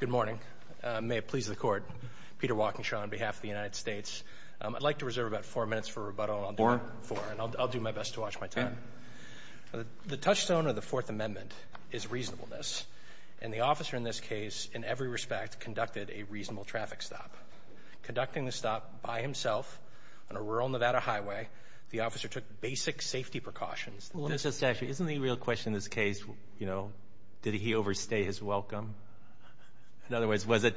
Good morning. May it please the court. Peter Walkinshaw on behalf of the United States. I'd like to reserve about four minutes for rebuttal. Four? Four. And I'll do my best to watch my time. The touchstone of the Fourth Amendment is reasonableness. And the officer in this case, in every respect, conducted a reasonable traffic stop. Conducting the stop by himself on a rural Nevada highway, the officer took basic safety precautions. Let me just ask you, isn't the real question in this case, you know, did he overstay his welcome? In other words, was it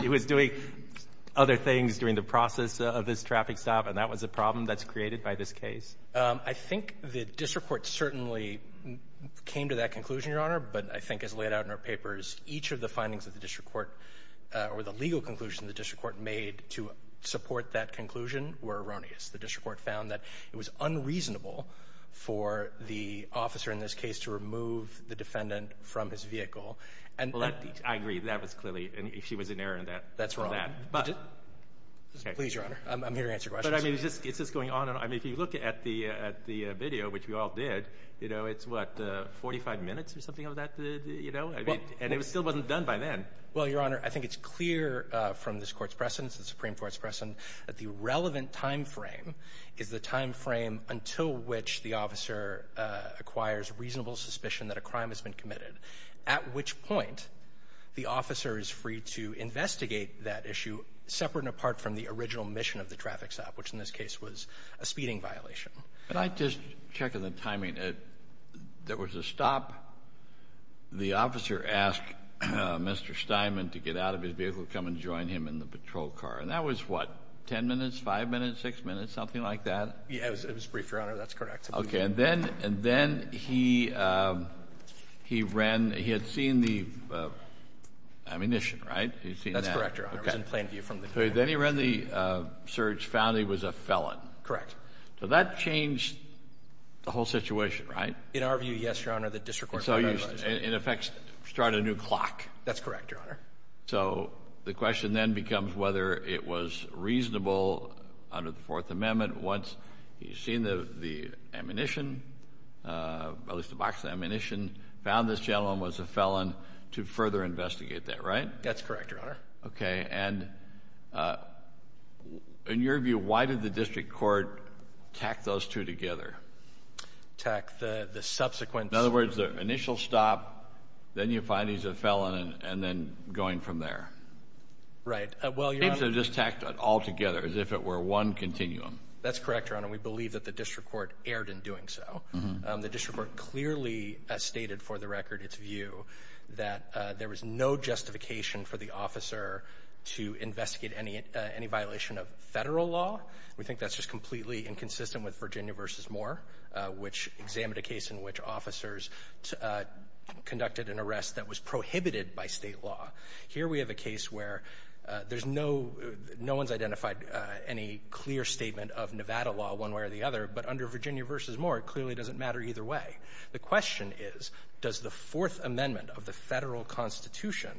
he was doing other things during the process of this traffic stop, and that was a problem that's created by this case? I think the district court certainly came to that conclusion, Your Honor, but I think as laid out in our papers, each of the findings of the district court or the legal conclusion the district court made to support that conclusion were erroneous. The district court found that it was unreasonable for the officer in this case to remove the defendant from his vehicle. Well, I agree. That was clearly an issue. She was in error in that. That's wrong. Please, Your Honor. I'm here to answer questions. But, I mean, is this going on? I mean, if you look at the video, which we all did, you know, it's what, 45 minutes or something of that, you know? And it still wasn't done by then. Well, Your Honor, I think it's clear from this Court's precedence, the Supreme Court's precedent, that the relevant timeframe is the timeframe until which the officer acquires reasonable suspicion that a crime has been committed, at which point the officer is free to investigate that issue separate and apart from the original mission of the traffic stop, which in this case was a speeding violation. Can I just check on the timing? There was a stop. The officer asked Mr. Steinman to get out of his vehicle, come and join him in the patrol car. And that was, what, 10 minutes, 5 minutes, 6 minutes, something like that? Yeah, it was brief, Your Honor. That's correct. Okay. And then he ran, he had seen the ammunition, right? That's correct, Your Honor. It was in plain view from the camera. Okay. Then he ran the search, found he was a felon. Correct. So that changed the whole situation, right? In our view, yes, Your Honor. The district court provided us. And so you, in effect, started a new clock. That's correct, Your Honor. So the question then becomes whether it was reasonable under the Fourth Amendment, once he's seen the ammunition, at least the box of ammunition, found this gentleman was a felon, to further investigate that, right? That's correct, Your Honor. Okay. And in your view, why did the district court tack those two together? Tack the subsequent. In other words, the initial stop, then you find he's a felon, and then going from there. Well, Your Honor. Seems to have just tacked it all together as if it were one continuum. That's correct, Your Honor. We believe that the district court erred in doing so. The district court clearly stated, for the record, its view, that there was no justification for the officer to investigate any violation of federal law. We think that's just completely inconsistent with Virginia v. Moore, which examined a case in which officers conducted an arrest that was prohibited by state law. Here we have a case where there's no one's identified any clear statement of Nevada law one way or the other, but under Virginia v. Moore, it clearly doesn't matter either way. The question is, does the Fourth Amendment of the federal constitution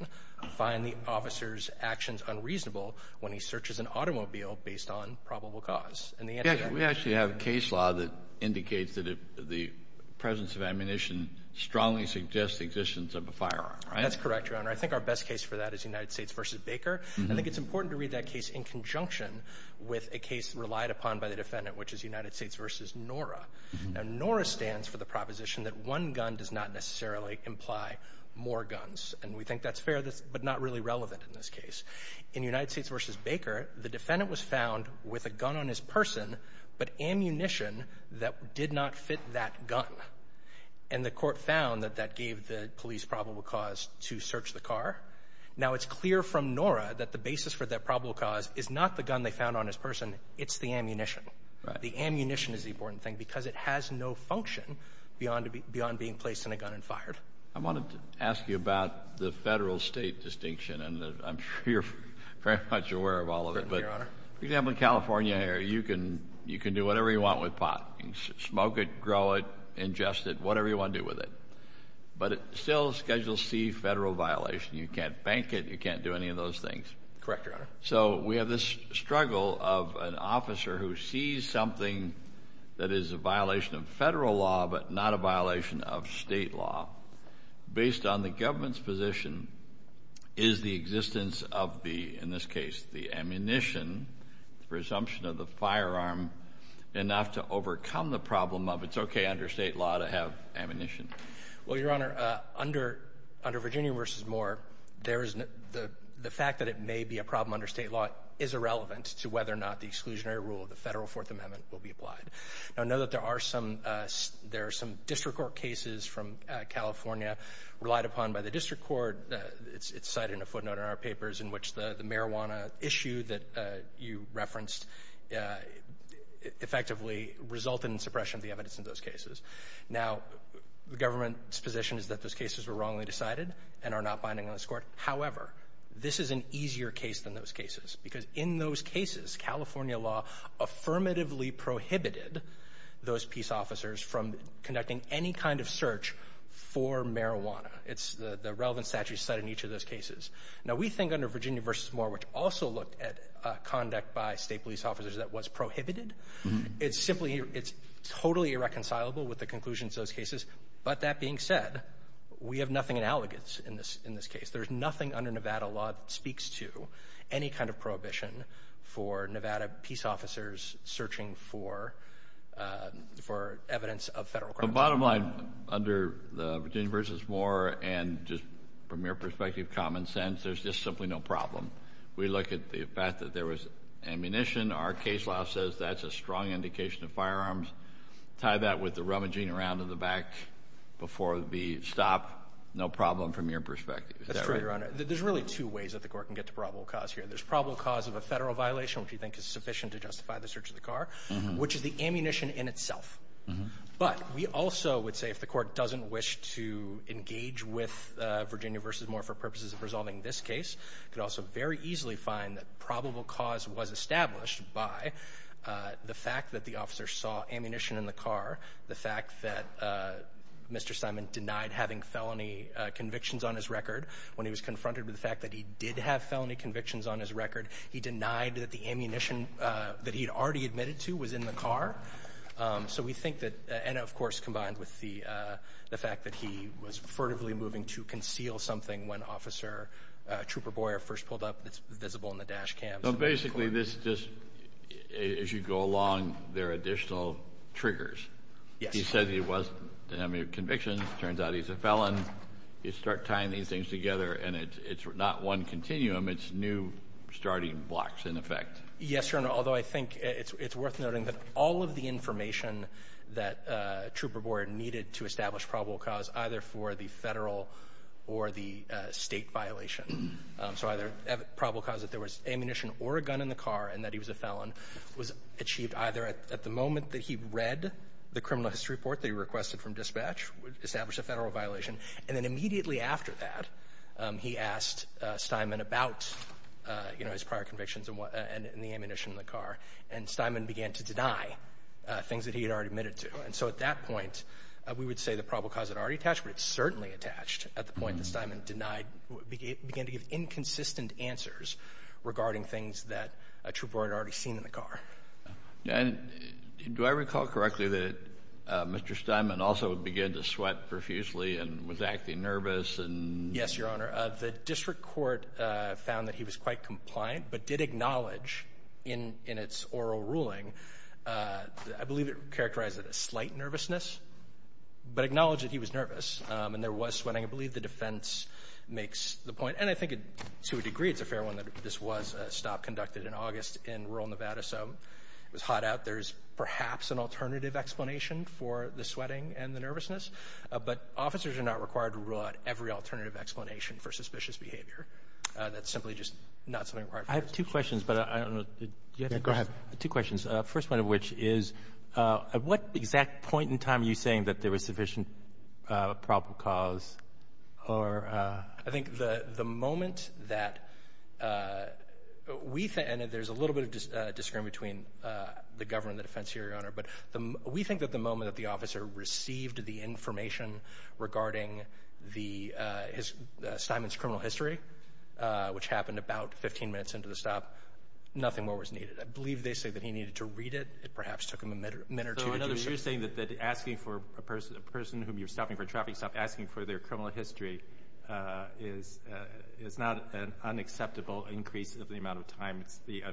find the officer's actions unreasonable when he searches an automobile based on probable cause? We actually have a case law that indicates that the presence of ammunition strongly suggests the existence of a firearm. That's correct, Your Honor. I think our best case for that is United States v. Baker. I think it's important to read that case in conjunction with a case relied upon by the defendant, which is United States v. Nora. Now, Nora stands for the proposition that one gun does not necessarily imply more guns, and we think that's fair, but not really relevant in this case. In United States v. Baker, the defendant was found with a gun on his person, but ammunition that did not fit that gun. And the Court found that that gave the police probable cause to search the car. Now, it's clear from Nora that the basis for that probable cause is not the gun they found on his person. It's the ammunition. The ammunition is the important thing because it has no function beyond being placed in a gun and fired. I wanted to ask you about the federal-state distinction, and I'm sure you're very much aware of all of it. For example, in California, Harry, you can do whatever you want with pot. You can smoke it, grow it, ingest it, whatever you want to do with it. But it still schedules C, federal violation. You can't bank it. You can't do any of those things. Correct, Your Honor. So we have this struggle of an officer who sees something that is a violation of federal law but not a violation of state law. Based on the government's position, is the existence of the, in this case, the ammunition, presumption of the firearm enough to overcome the problem of it's okay under state law to have ammunition? Well, Your Honor, under Virginia v. Moore, the fact that it may be a problem under state law is irrelevant to whether or not the exclusionary rule of the Federal Fourth Amendment will be applied. Now, I know that there are some district court cases from California relied upon by the district court. It's cited in a footnote in our papers in which the marijuana issue that you referenced effectively resulted in suppression of the evidence in those cases. Now, the government's position is that those cases were wrongly decided and are not binding on this court. However, this is an easier case than those cases because in those cases, California law affirmatively prohibited those peace officers from conducting any kind of search for marijuana. It's the relevant statute cited in each of those cases. Now, we think under Virginia v. Moore, which also looked at conduct by state police officers that was prohibited, it's totally irreconcilable with the conclusions of those cases. But that being said, we have nothing in allegance in this case. There's nothing under Nevada law that speaks to any kind of prohibition for Nevada peace officers searching for evidence of federal crime. The bottom line under Virginia v. Moore and just from your perspective common sense, there's just simply no problem. We look at the fact that there was ammunition. Our case law says that's a strong indication of firearms. Tie that with the rummaging around in the back before the stop, no problem from your perspective. Is that right? That's right, Your Honor. There's really two ways that the court can get to probable cause here. There's probable cause of a federal violation, which we think is sufficient to justify the search of the car, which is the ammunition in itself. But we also would say if the court doesn't wish to engage with Virginia v. Moore for purposes of resolving this case, it could also very easily find that probable cause was established by the fact that the officer saw ammunition in the car, the fact that Mr. Simon denied having felony convictions on his record. When he was confronted with the fact that he did have felony convictions on his record, he denied that the ammunition that he had already admitted to was in the car. So we think that, and, of course, combined with the fact that he was furtively moving to conceal something when Officer Trooper Boyer first pulled up that's visible in the dash cams. So basically this just, as you go along, there are additional triggers. Yes. He said he didn't have any convictions. It turns out he's a felon. You start tying these things together, and it's not one continuum. It's new starting blocks, in effect. Yes, Your Honor, although I think it's worth noting that all of the information that Trooper Boyer needed to establish probable cause, either for the federal or the state violation. So either probable cause that there was ammunition or a gun in the car and that he was a felon was achieved either at the moment that he read the criminal history report that he requested from dispatch, established a federal violation, and then immediately after that he asked Steinman about, you know, his prior convictions and the ammunition in the car. And Steinman began to deny things that he had already admitted to. And so at that point, we would say the probable cause had already attached, but it certainly attached at the point that Steinman denied, began to give inconsistent answers regarding things that Trooper Boyer had already seen in the car. And do I recall correctly that Mr. Steinman also began to sweat profusely and was acting nervous? Yes, Your Honor. The district court found that he was quite compliant but did acknowledge in its oral ruling, I believe it characterized it as slight nervousness, but acknowledged that he was nervous and there was sweating. I believe the defense makes the point. And I think to a degree it's a fair one that this was a stop conducted in August in rural Nevada. So it was hot out. There's perhaps an alternative explanation for the sweating and the nervousness, but officers are not required to rule out every alternative explanation for suspicious behavior. That's simply just not something required. I have two questions, but I don't know. Go ahead. Two questions. The first one of which is at what exact point in time are you saying that there was sufficient probable cause? I think the moment that we think, and there's a little bit of disagreement between the government and the defense here, Your Honor, but we think that the moment that the officer received the information regarding Steinman's criminal history, which happened about 15 minutes into the stop, nothing more was needed. I believe they say that he needed to read it. It perhaps took him a minute or two to do so. So you're saying that asking for a person whom you're stopping for a traffic stop, asking for their criminal history is not an unacceptable increase of the amount of time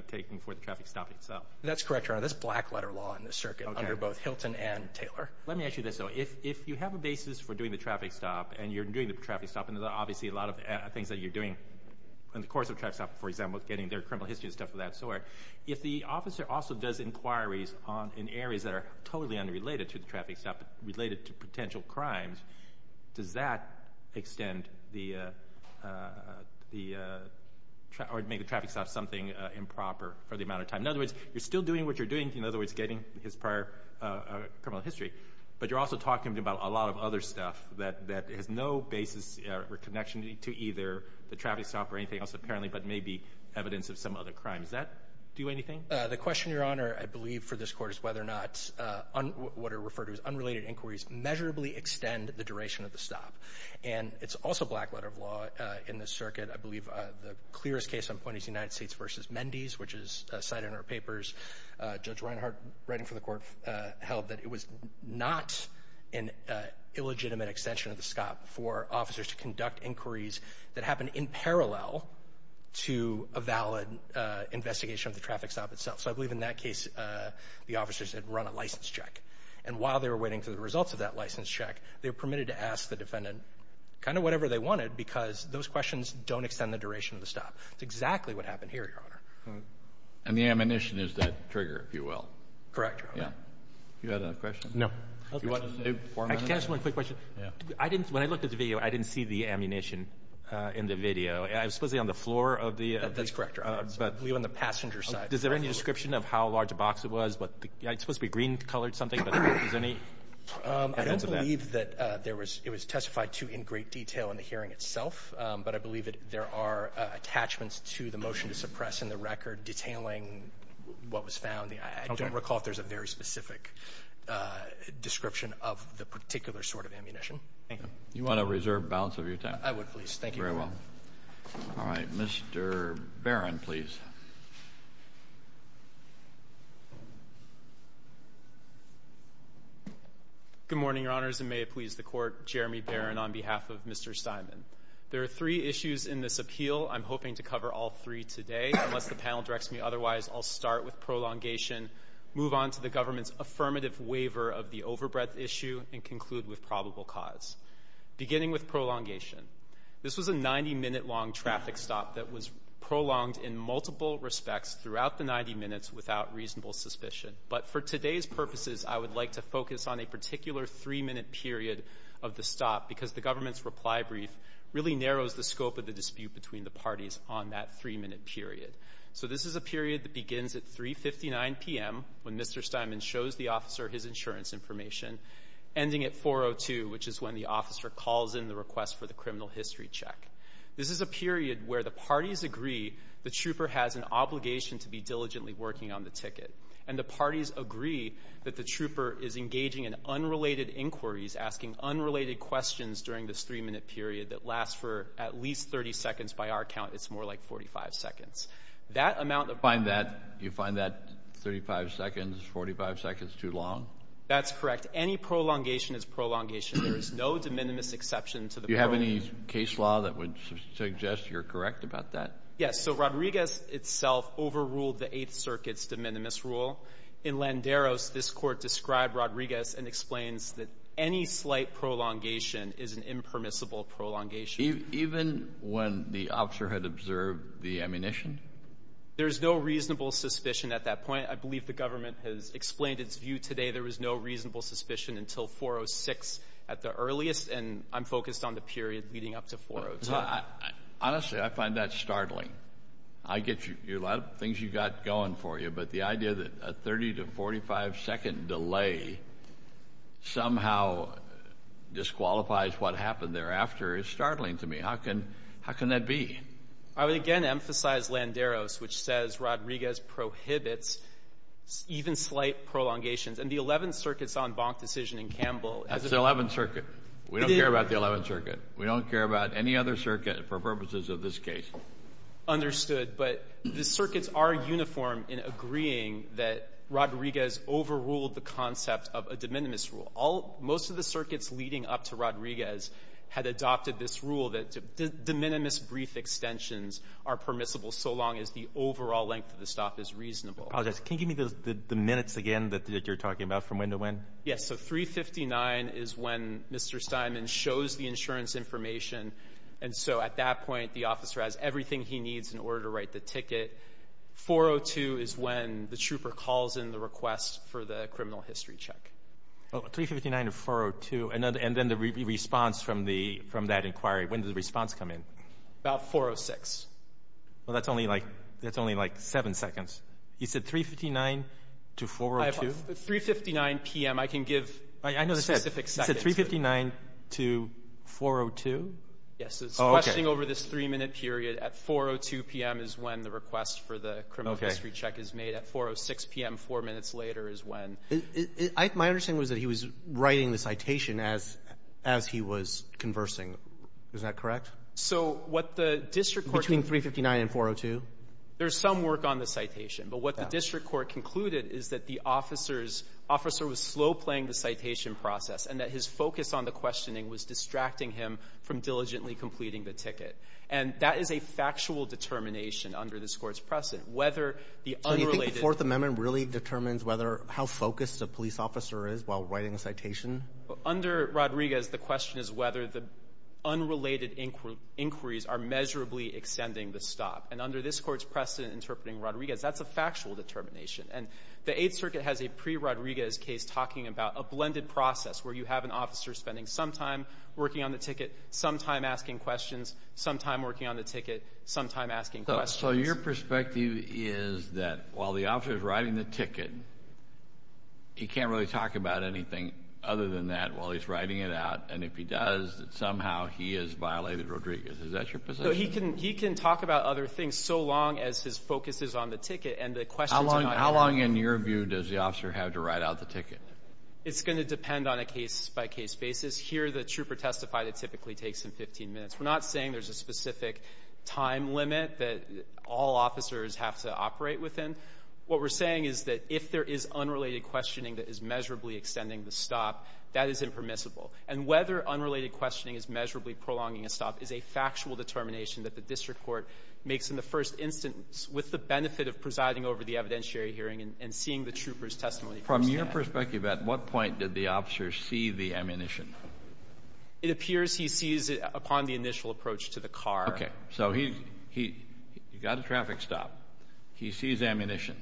taken for the traffic stop itself. That's correct, Your Honor. That's black-letter law in this circuit under both Hilton and Taylor. Let me ask you this, though. If you have a basis for doing the traffic stop and you're doing the traffic stop, and obviously a lot of things that you're doing in the course of a traffic stop, for example, is getting their criminal history and stuff of that sort, if the officer also does inquiries in areas that are totally unrelated to the traffic stop, related to potential crimes, does that extend or make the traffic stop something improper for the amount of time? In other words, you're still doing what you're doing, in other words, getting his prior criminal history, but you're also talking about a lot of other stuff that has no basis or connection to either the traffic stop or anything else, apparently, but may be evidence of some other crime. Does that do anything? The question, Your Honor, I believe for this Court is whether or not what are referred to as unrelated inquiries measurably extend the duration of the stop. And it's also black-letter law in this circuit. I believe the clearest case on point is United States v. Mendes, which is cited in our papers. Judge Reinhart, writing for the Court, held that it was not an illegitimate extension of the stop for officers to conduct inquiries that happened in parallel to a valid investigation of the traffic stop itself. So I believe in that case the officers had run a license check. And while they were waiting for the results of that license check, they were permitted to ask the defendant kind of whatever they wanted because those questions don't extend the duration of the stop. That's exactly what happened here, Your Honor. And the ammunition is that trigger, if you will. Correct, Your Honor. Do you have another question? No. Do you want to save four minutes? Can I ask one quick question? Yeah. When I looked at the video, I didn't see the ammunition in the video. It was supposedly on the floor of the ---- That's correct, Your Honor. It was on the passenger side. Is there any description of how large a box it was? It's supposed to be green-colored something, but is there any evidence of that? I don't believe that it was testified to in great detail in the hearing itself, but I believe that there are attachments to the motion to suppress in the record detailing what was found. I don't recall if there's a very specific description of the particular sort of ammunition. Thank you. Do you want to reserve balance of your time? I would, please. Thank you. Very well. All right. Mr. Barron, please. Good morning, Your Honors, and may it please the Court, Jeremy Barron on behalf of Mr. Steinman. There are three issues in this appeal. I'm hoping to cover all three today. Unless the panel directs me otherwise, I'll start with prolongation, move on to the government's affirmative waiver of the overbreadth issue, and conclude with probable cause. Beginning with prolongation, this was a 90-minute-long traffic stop that was prolonged in multiple respects throughout the 90 minutes without reasonable suspicion. But for today's purposes, I would like to focus on a particular three-minute period of the stop because the government's reply brief really narrows the scope of the dispute between the parties on that three-minute period. So this is a period that begins at 3.59 p.m., when Mr. Steinman shows the officer his insurance information, ending at 4.02, which is when the officer calls in the request for the criminal history check. This is a period where the parties agree the trooper has an obligation to be diligently working on the ticket, and the parties agree that the trooper is engaging in unrelated inquiries, asking unrelated questions during this three-minute period that lasts for at least 30 seconds. By our count, it's more like 45 seconds. You find that 35 seconds, 45 seconds too long? That's correct. Any prolongation is prolongation. There is no de minimis exception to the rule. Do you have any case law that would suggest you're correct about that? Yes. So Rodriguez itself overruled the Eighth Circuit's de minimis rule. In Landeros, this Court described Rodriguez and explains that any slight prolongation is an impermissible prolongation. Even when the officer had observed the ammunition? There's no reasonable suspicion at that point. I believe the government has explained its view today. There was no reasonable suspicion until 4.06 at the earliest, and I'm focused on the period leading up to 4.02. Honestly, I find that startling. I get a lot of things you've got going for you, but the idea that a 30- to 45-second delay somehow disqualifies what happened thereafter is startling to me. How can that be? I would again emphasize Landeros, which says Rodriguez prohibits even slight prolongations. And the Eleventh Circuit's en banc decision in Campbell. That's the Eleventh Circuit. We don't care about the Eleventh Circuit. We don't care about any other circuit for purposes of this case. Understood, but the circuits are uniform in agreeing that Rodriguez overruled the concept of a de minimis rule. Most of the circuits leading up to Rodriguez had adopted this rule that de minimis brief extensions are permissible so long as the overall length of the stop is reasonable. I apologize. Can you give me the minutes again that you're talking about from when to when? Yes, so 3.59 is when Mr. Steinman shows the insurance information, and so at that point the officer has everything he needs in order to write the ticket. 4.02 is when the trooper calls in the request for the criminal history check. Oh, 3.59 to 4.02, and then the response from that inquiry. When does the response come in? About 4.06. Well, that's only like 7 seconds. You said 3.59 to 4.02? 3.59 p.m. I can give specific seconds. I said 3.59 to 4.02? Yes. Oh, okay. It's questioning over this three-minute period. At 4.02 p.m. is when the request for the criminal history check is made. At 4.06 p.m., four minutes later, is when. My understanding was that he was writing the citation as he was conversing. Is that correct? So what the district court concluded was that the officer was slow playing the citation process and that his focus on the questioning was distracting him from diligently completing the ticket. And that is a factual determination under this Court's precedent, whether the unrelated So you think the Fourth Amendment really determines whether or how focused a police officer is while writing a citation? Under Rodriguez, the question is whether the unrelated inquiries are measurably extending the stop. And under this Court's precedent interpreting Rodriguez, that's a factual determination. And the Eighth Circuit has a pre-Rodriguez case talking about a blended process where you have an officer spending some time working on the ticket, some time asking questions, some time working on the ticket, some time asking questions. So your perspective is that while the officer is writing the ticket, he can't really talk about anything other than that while he's writing it out, and if he does, that somehow he has violated Rodriguez. Is that your position? He can talk about other things so long as his focus is on the ticket and the questions How long, in your view, does the officer have to write out the ticket? It's going to depend on a case-by-case basis. Here, the trooper testified it typically takes him 15 minutes. We're not saying there's a specific time limit that all officers have to operate within. What we're saying is that if there is unrelated questioning that is measurably extending the stop, that is impermissible. And whether unrelated questioning is measurably prolonging a stop is a factual determination that the district court makes in the first instance with the benefit of presiding over the evidentiary hearing and seeing the trooper's testimony first From your perspective, at what point did the officer see the ammunition? It appears he sees it upon the initial approach to the car. So he got a traffic stop. He sees ammunition,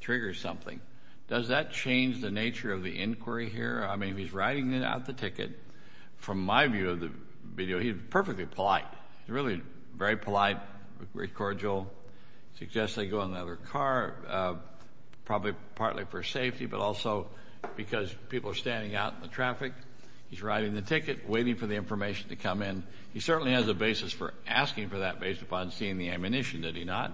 triggers something. Does that change the nature of the inquiry here? I mean, he's writing out the ticket. From my view of the video, he's perfectly polite. He's really very polite, very cordial. Suggests they go in another car, probably partly for safety, but also because people are standing out in the traffic. He's writing the ticket, waiting for the information to come in. He certainly has a basis for asking for that based upon seeing the ammunition, did he not?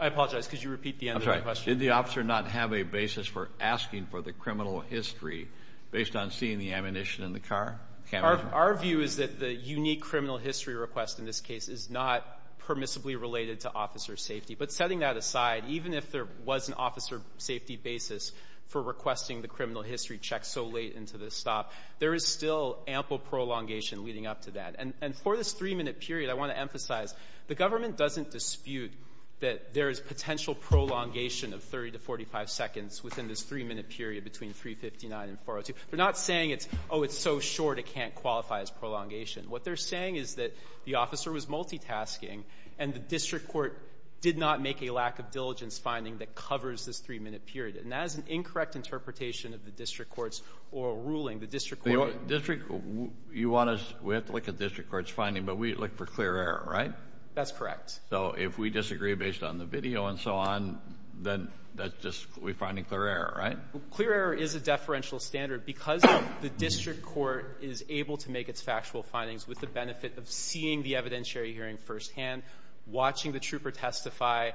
I apologize. Could you repeat the end of the question? I'm sorry. Did the officer not have a basis for asking for the criminal history based on seeing the ammunition in the car? Our view is that the unique criminal history request in this case is not permissibly related to officer safety. But setting that aside, even if there was an officer safety basis for requesting the criminal history check so late into the stop, there is still ample prolongation leading up to that. And for this 3-minute period, I want to emphasize the government doesn't dispute that there is potential prolongation of 30 to 45 seconds within this 3-minute period between 359 and 402. They're not saying it's, oh, it's so short it can't qualify as prolongation. What they're saying is that the officer was multitasking, and the district court did not make a lack of diligence finding that covers this 3-minute period. And that is an incorrect interpretation of the district court's oral ruling. The district court — The district — you want us — we have to look at district court's finding, but we look for clear error, right? That's correct. So if we disagree based on the video and so on, then that's just — we find a clear error, right? Clear error is a deferential standard because the district court is able to make its factual findings with the benefit of seeing the evidentiary hearing firsthand, watching the trooper testify,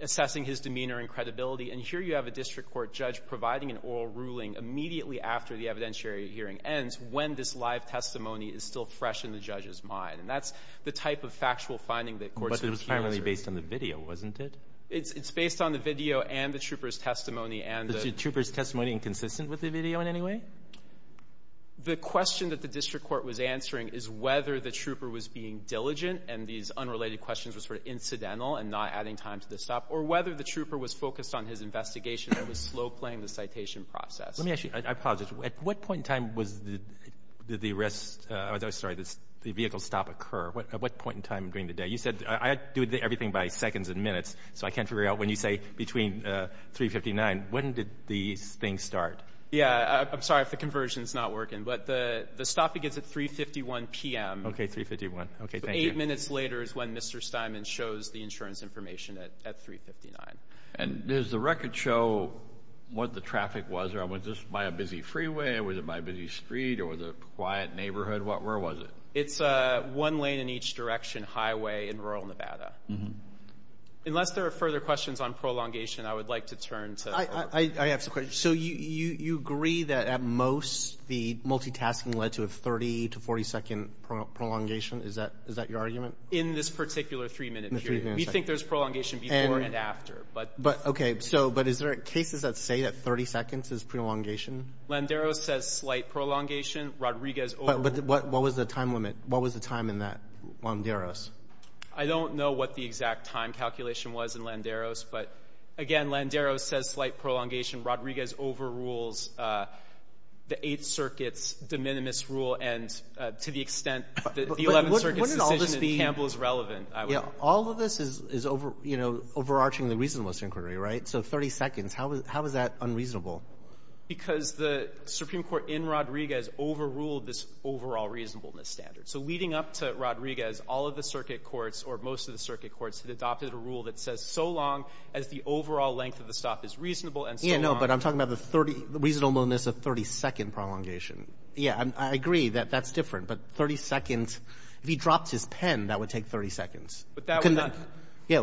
assessing his demeanor and credibility. And here you have a district court judge providing an oral ruling immediately after the evidentiary hearing ends when this live testimony is still fresh in the judge's mind. And that's the type of factual finding that courts — But it was primarily based on the video, wasn't it? It's based on the video and the trooper's testimony and the — Was the trooper's testimony inconsistent with the video in any way? The question that the district court was answering is whether the trooper was being diligent and these unrelated questions were sort of incidental and not adding time to the stop, or whether the trooper was focused on his investigation and was slow-playing the citation process. Let me ask you. I apologize. At what point in time was the arrest — I'm sorry, the vehicle stop occur? At what point in time during the day? You said — I do everything by seconds and minutes, so I can't figure out when you say between 3 and 59. When did these things start? Yeah. I'm sorry if the conversion is not working. But the stop begins at 3.51 p.m. Okay. 3.51. Okay. Thank you. Eight minutes later is when Mr. Steinman shows the insurance information at 3.59. And does the record show what the traffic was? Or was this by a busy freeway? Was it by a busy street? Or was it a quiet neighborhood? Where was it? It's a one-lane-in-each-direction highway in rural Nevada. Unless there are further questions on prolongation, I would like to turn to — I have some questions. So you agree that at most the multitasking led to a 30- to 40-second prolongation? Is that your argument? In this particular three-minute period. We think there's prolongation before and after. Okay. But is there cases that say that 30 seconds is prolongation? Landero says slight prolongation. Rodriguez — But what was the time limit? What was the time in that, Landero? I don't know what the exact time calculation was in Landero's. But, again, Landero says slight prolongation. Rodriguez overrules the Eighth Circuit's de minimis rule. And to the extent that the Eleventh Circuit's decision in Campbell is relevant, I would — All of this is, you know, overarching the reasonableness inquiry, right? So 30 seconds. How is that unreasonable? Because the Supreme Court in Rodriguez overruled this overall reasonableness standard. So leading up to Rodriguez, all of the circuit courts, or most of the circuit courts, had adopted a rule that says so long as the overall length of the stop is reasonable and so long — No. But I'm talking about the 30 — the reasonableness of 30-second prolongation. Yeah. I agree that that's different. But 30 seconds — if he dropped his pen, that would take 30 seconds. But that would not — Yeah.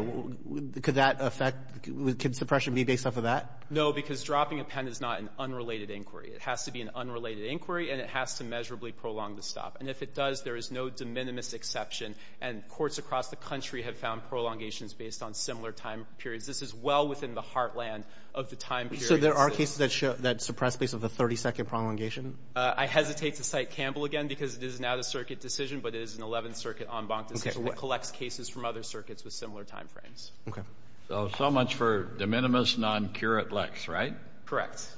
Could that affect — could suppression be based off of that? No, because dropping a pen is not an unrelated inquiry. It has to be an unrelated inquiry, and it has to measurably prolong the stop. And if it does, there is no de minimis exception. And courts across the country have found prolongations based on similar time periods. This is well within the heartland of the time period. So there are cases that show — that suppress base of the 30-second prolongation? I hesitate to cite Campbell again, because it is an Out-of-Circuit decision, but it is an Eleventh Circuit en banc decision that collects cases from other circuits with similar time frames. Okay. So so much for de minimis non curat lex, right?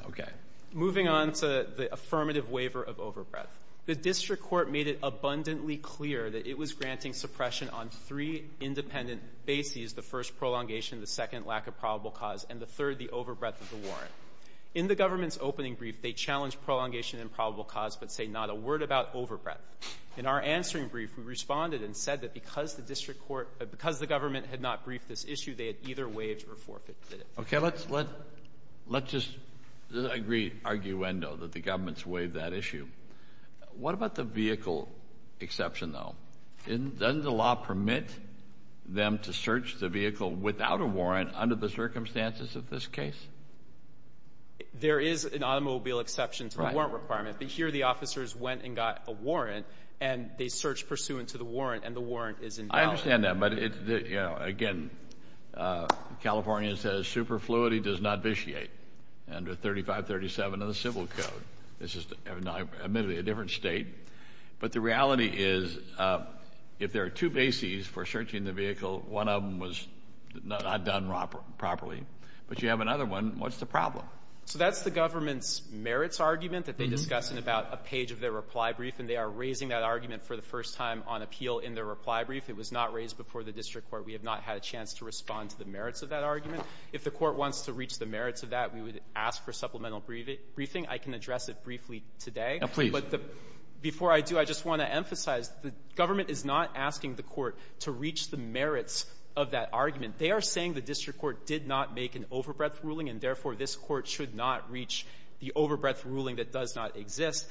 Okay. Moving on to the affirmative waiver of overbreadth. The district court made it abundantly clear that it was granting suppression on three independent bases — the first, prolongation, the second, lack of probable cause, and the third, the overbreadth of the warrant. In the government's opening brief, they challenged prolongation and probable cause but say not a word about overbreadth. In our answering brief, we responded and said that because the district court — because the government had not briefed this issue, they had either waived or forfeited it. Okay. Let's just agree arguendo that the government's waived that issue. What about the vehicle exception, though? Doesn't the law permit them to search the vehicle without a warrant under the circumstances of this case? There is an automobile exception to the warrant requirement. But here the officers went and got a warrant, and they searched pursuant to the warrant, and the warrant is invalid. I understand that, but, you know, again, California says superfluity does not vitiate under 3537 of the civil code. This is admittedly a different state. But the reality is if there are two bases for searching the vehicle, one of them was not done properly, but you have another one, what's the problem? So that's the government's merits argument that they discuss in about a page of their reply brief, and they are raising that argument for the first time on appeal in their reply brief. It was not raised before the district court. We have not had a chance to respond to the merits of that argument. If the court wants to reach the merits of that, we would ask for supplemental briefing. I can address it briefly today. Now, please. But before I do, I just want to emphasize the government is not asking the court to reach the merits of that argument. They are saying the district court did not make an overbreadth ruling, and therefore this court should not reach the overbreadth ruling that does not exist.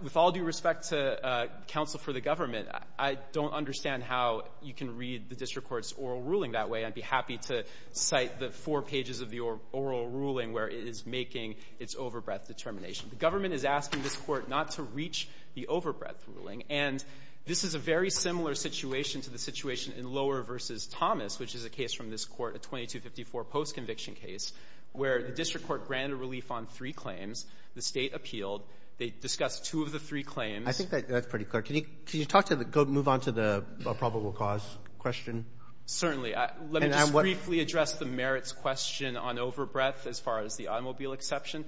With all due respect to counsel for the government, I don't understand how you can read the district court's oral ruling that way. I'd be happy to cite the four pages of the oral ruling where it is making its overbreadth determination. The government is asking this court not to reach the overbreadth ruling. And this is a very similar situation to the situation in Lower v. Thomas, which is a case from this court, a 2254 postconviction case, where the district court granted relief on three claims. The State appealed. They discussed two of the three claims. Roberts. I think that's pretty clear. Can you talk to the go move on to the probable cause question? Certainly. Let me just briefly address the merits question on overbreadth as far as the automobile exception.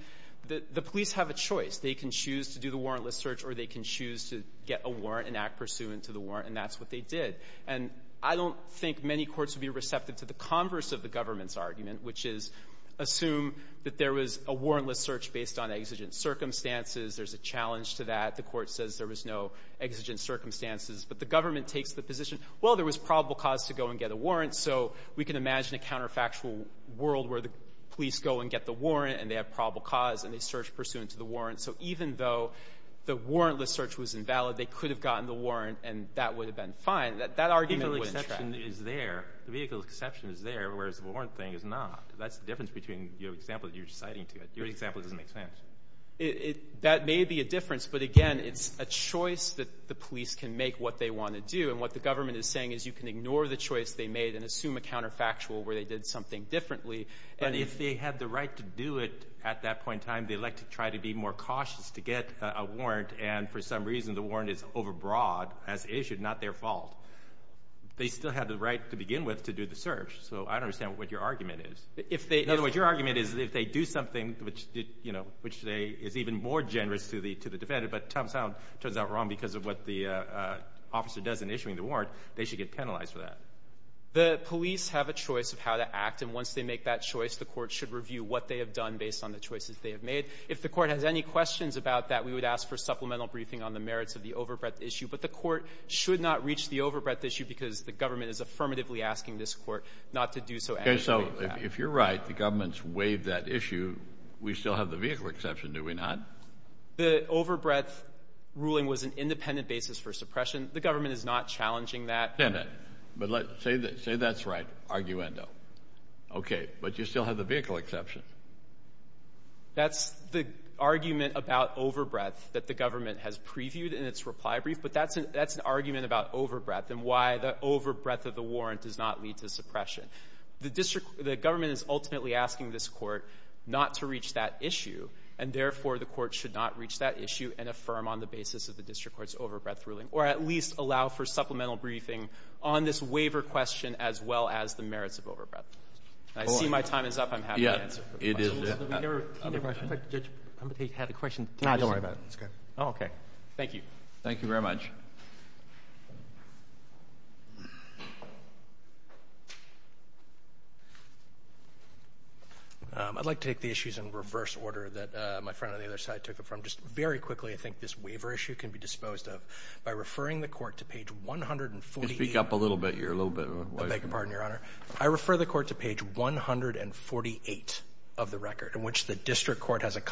The police have a choice. They can choose to do the warrantless search or they can choose to get a warrant and act pursuant to the warrant, and that's what they did. And I don't think many courts would be receptive to the converse of the government's decision to assume that there was a warrantless search based on exigent circumstances. There's a challenge to that. The court says there was no exigent circumstances. But the government takes the position, well, there was probable cause to go and get a warrant, so we can imagine a counterfactual world where the police go and get the warrant and they have probable cause and they search pursuant to the warrant. So even though the warrantless search was invalid, they could have gotten the warrant and that would have been fine. That argument wouldn't track. The vehicle exception is there. The vehicle exception is there, whereas the warrant thing is not. That's the difference between your example that you're citing to it. Your example doesn't make sense. That may be a difference, but again, it's a choice that the police can make what they want to do, and what the government is saying is you can ignore the choice they made and assume a counterfactual where they did something differently. But if they had the right to do it at that point in time, they'd like to try to be more cautious to get a warrant, and for some reason the warrant is overbroad as issued, not their fault. They still have the right to begin with to do the search, so I don't understand what your argument is. In other words, your argument is if they do something, which is even more generous to the defendant, but it turns out wrong because of what the officer does in issuing the warrant, they should get penalized for that. The police have a choice of how to act, and once they make that choice, the Court should review what they have done based on the choices they have made. If the Court has any questions about that, we would ask for supplemental briefing on the merits of the overbreadth issue. But the Court should not reach the overbreadth issue because the government is affirmatively asking this Court not to do so. Okay. So if you're right, the government's waived that issue. We still have the vehicle exception, do we not? The overbreadth ruling was an independent basis for suppression. The government is not challenging that. Damn it. But say that's right, arguendo. Okay. But you still have the vehicle exception. That's the argument about overbreadth that the government has previewed in its reply brief, but that's an argument about overbreadth and why the overbreadth of the warrant does not lead to suppression. The district — the government is ultimately asking this Court not to reach that issue, and therefore, the Court should not reach that issue and affirm on the basis of the district court's overbreadth ruling, or at least allow for supplemental briefing on this waiver question as well as the merits of overbreadth. I see my time is up. I'm happy to answer questions. It is. Other questions? Judge, I'm going to have a question. No, don't worry about it. It's good. Oh, okay. Thank you. Thank you very much. I'd like to take the issues in reverse order that my friend on the other side took it from. Just very quickly, I think this waiver issue can be disposed of by referring the Court to page 148. Speak up a little bit. You're a little bit — I beg your pardon, Your Honor. I refer the Court to page 148 of the record, in which the district court has a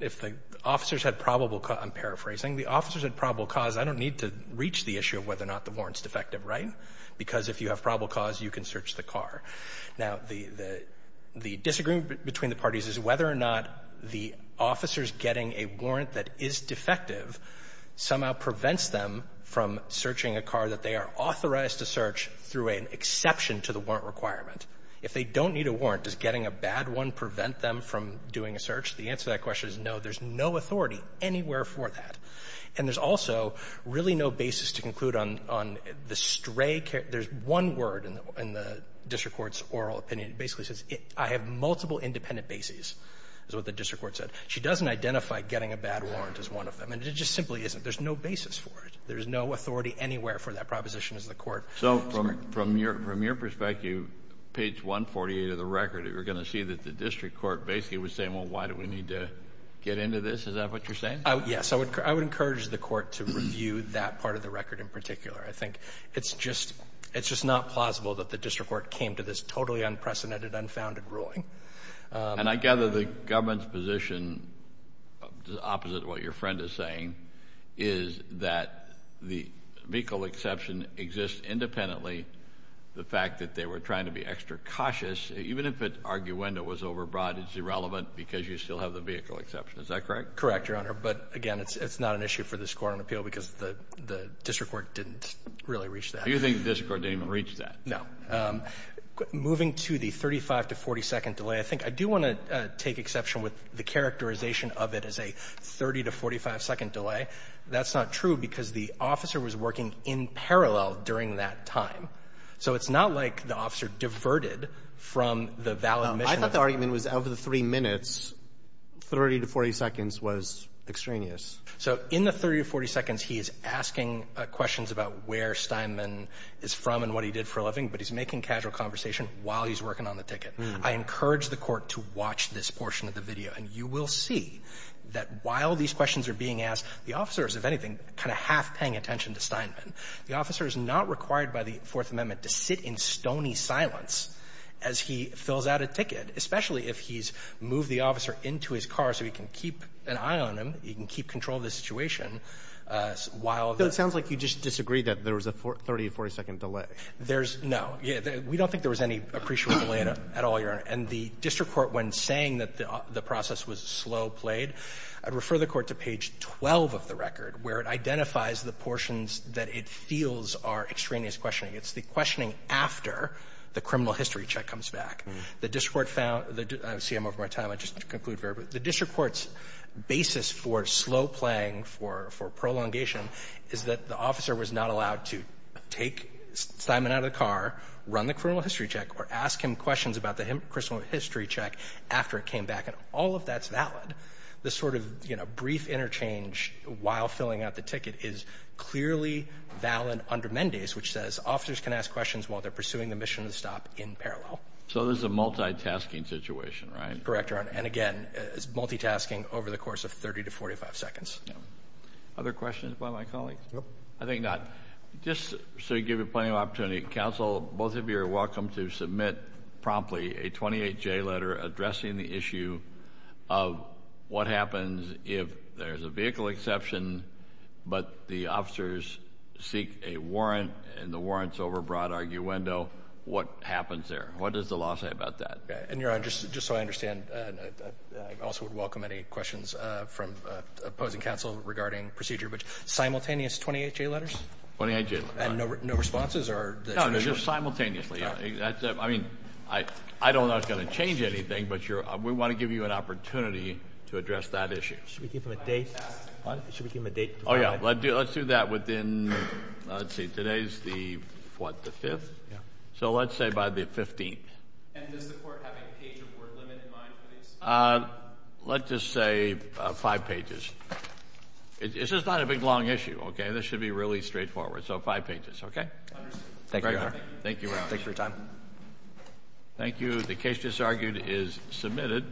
If the officers had probable — I'm paraphrasing. The officers had probable cause. I don't need to reach the issue of whether or not the warrant's defective, right? Because if you have probable cause, you can search the car. Now, the disagreement between the parties is whether or not the officers getting a warrant that is defective somehow prevents them from searching a car that they are authorized to search through an exception to the warrant requirement. If they don't need a warrant, does getting a bad one prevent them from doing a search? The answer to that question is no. There's no authority anywhere for that. And there's also really no basis to conclude on the stray — there's one word in the district court's oral opinion. It basically says, I have multiple independent bases, is what the district court said. She doesn't identify getting a bad warrant as one of them. And it just simply isn't. There's no basis for it. There's no authority anywhere for that proposition, as the Court — So from your perspective, page 148 of the record, you're going to see that the district court basically was saying, well, why do we need to get into this? Is that what you're saying? Yes. I would encourage the court to review that part of the record in particular. I think it's just — it's just not plausible that the district court came to this totally unprecedented, unfounded ruling. And I gather the government's position, opposite of what your friend is saying, is that the vehicle exception exists independently. The fact that they were trying to be extra cautious, even if it — arguendo was overbroad, it's irrelevant because you still have the vehicle exception. Is that correct? Correct, Your Honor. But, again, it's not an issue for this court on appeal because the district court didn't really reach that. Do you think the district court didn't even reach that? No. Moving to the 35- to 40-second delay, I think I do want to take exception with the characterization of it as a 30- to 45-second delay. That's not true because the officer was working in parallel during that time. So it's not like the officer diverted from the valid mission. I thought the argument was over the three minutes, 30- to 40-seconds was extraneous. So in the 30- to 40-seconds, he is asking questions about where Steinman is from and what he did for a living, but he's making casual conversation while he's working on the ticket. I encourage the court to watch this portion of the video, and you will see that while these questions are being asked, the officer is, if anything, kind of half paying attention to Steinman. The officer is not required by the Fourth Amendment to sit in stony silence as he fills out a ticket, especially if he's moved the officer into his car so he can keep an eye on him, he can keep control of the situation while the ---- So it sounds like you just disagree that there was a 30- to 40-second delay. There's no. We don't think there was any appreciable delay at all, Your Honor. And the district court, when saying that the process was slow-played, I'd refer the court to page 12 of the record, where it identifies the portions that it feels are extraneous questioning. It's the questioning after the criminal history check comes back. The district court found the ---- I see I'm over my time. I just want to conclude very quickly. The district court's basis for slow-playing, for prolongation, is that the officer was not allowed to take Steinman out of the car, run the criminal history check, or ask him questions about the criminal history check after it came back. And all of that's valid. This sort of, you know, brief interchange while filling out the ticket is clearly valid under Mendes, which says officers can ask questions while they're pursuing the mission of the stop in parallel. So this is a multitasking situation, right? Correct, Your Honor. And again, it's multitasking over the course of 30 to 45 seconds. Yeah. Other questions by my colleagues? Nope. I think not. Just to give you plenty of opportunity, counsel, both of you are welcome to submit promptly a 28-J letter addressing the issue of what happens if there's a vehicle exception, but the officers seek a warrant, and the warrant's over a broad arguendo. What happens there? What does the law say about that? And, Your Honor, just so I understand, I also would welcome any questions from opposing counsel regarding procedure, but simultaneous 28-J letters? 28-J letters. And no responses? No, just simultaneously. Simultaneously, yeah. I mean, I don't know it's going to change anything, but we want to give you an opportunity to address that issue. Should we give them a date? What? Should we give them a date? Oh, yeah. Let's do that within, let's see, today's the, what, the 5th? Yeah. So let's say by the 15th. And does the Court have a page or word limit in mind for these? Let's just say five pages. This is not a big, long issue, okay? This should be really straightforward. So five pages, okay? Understood. Thank you, Your Honor. Thank you, Your Honor. Thanks for your time. Thank you. The case just argued is submitted.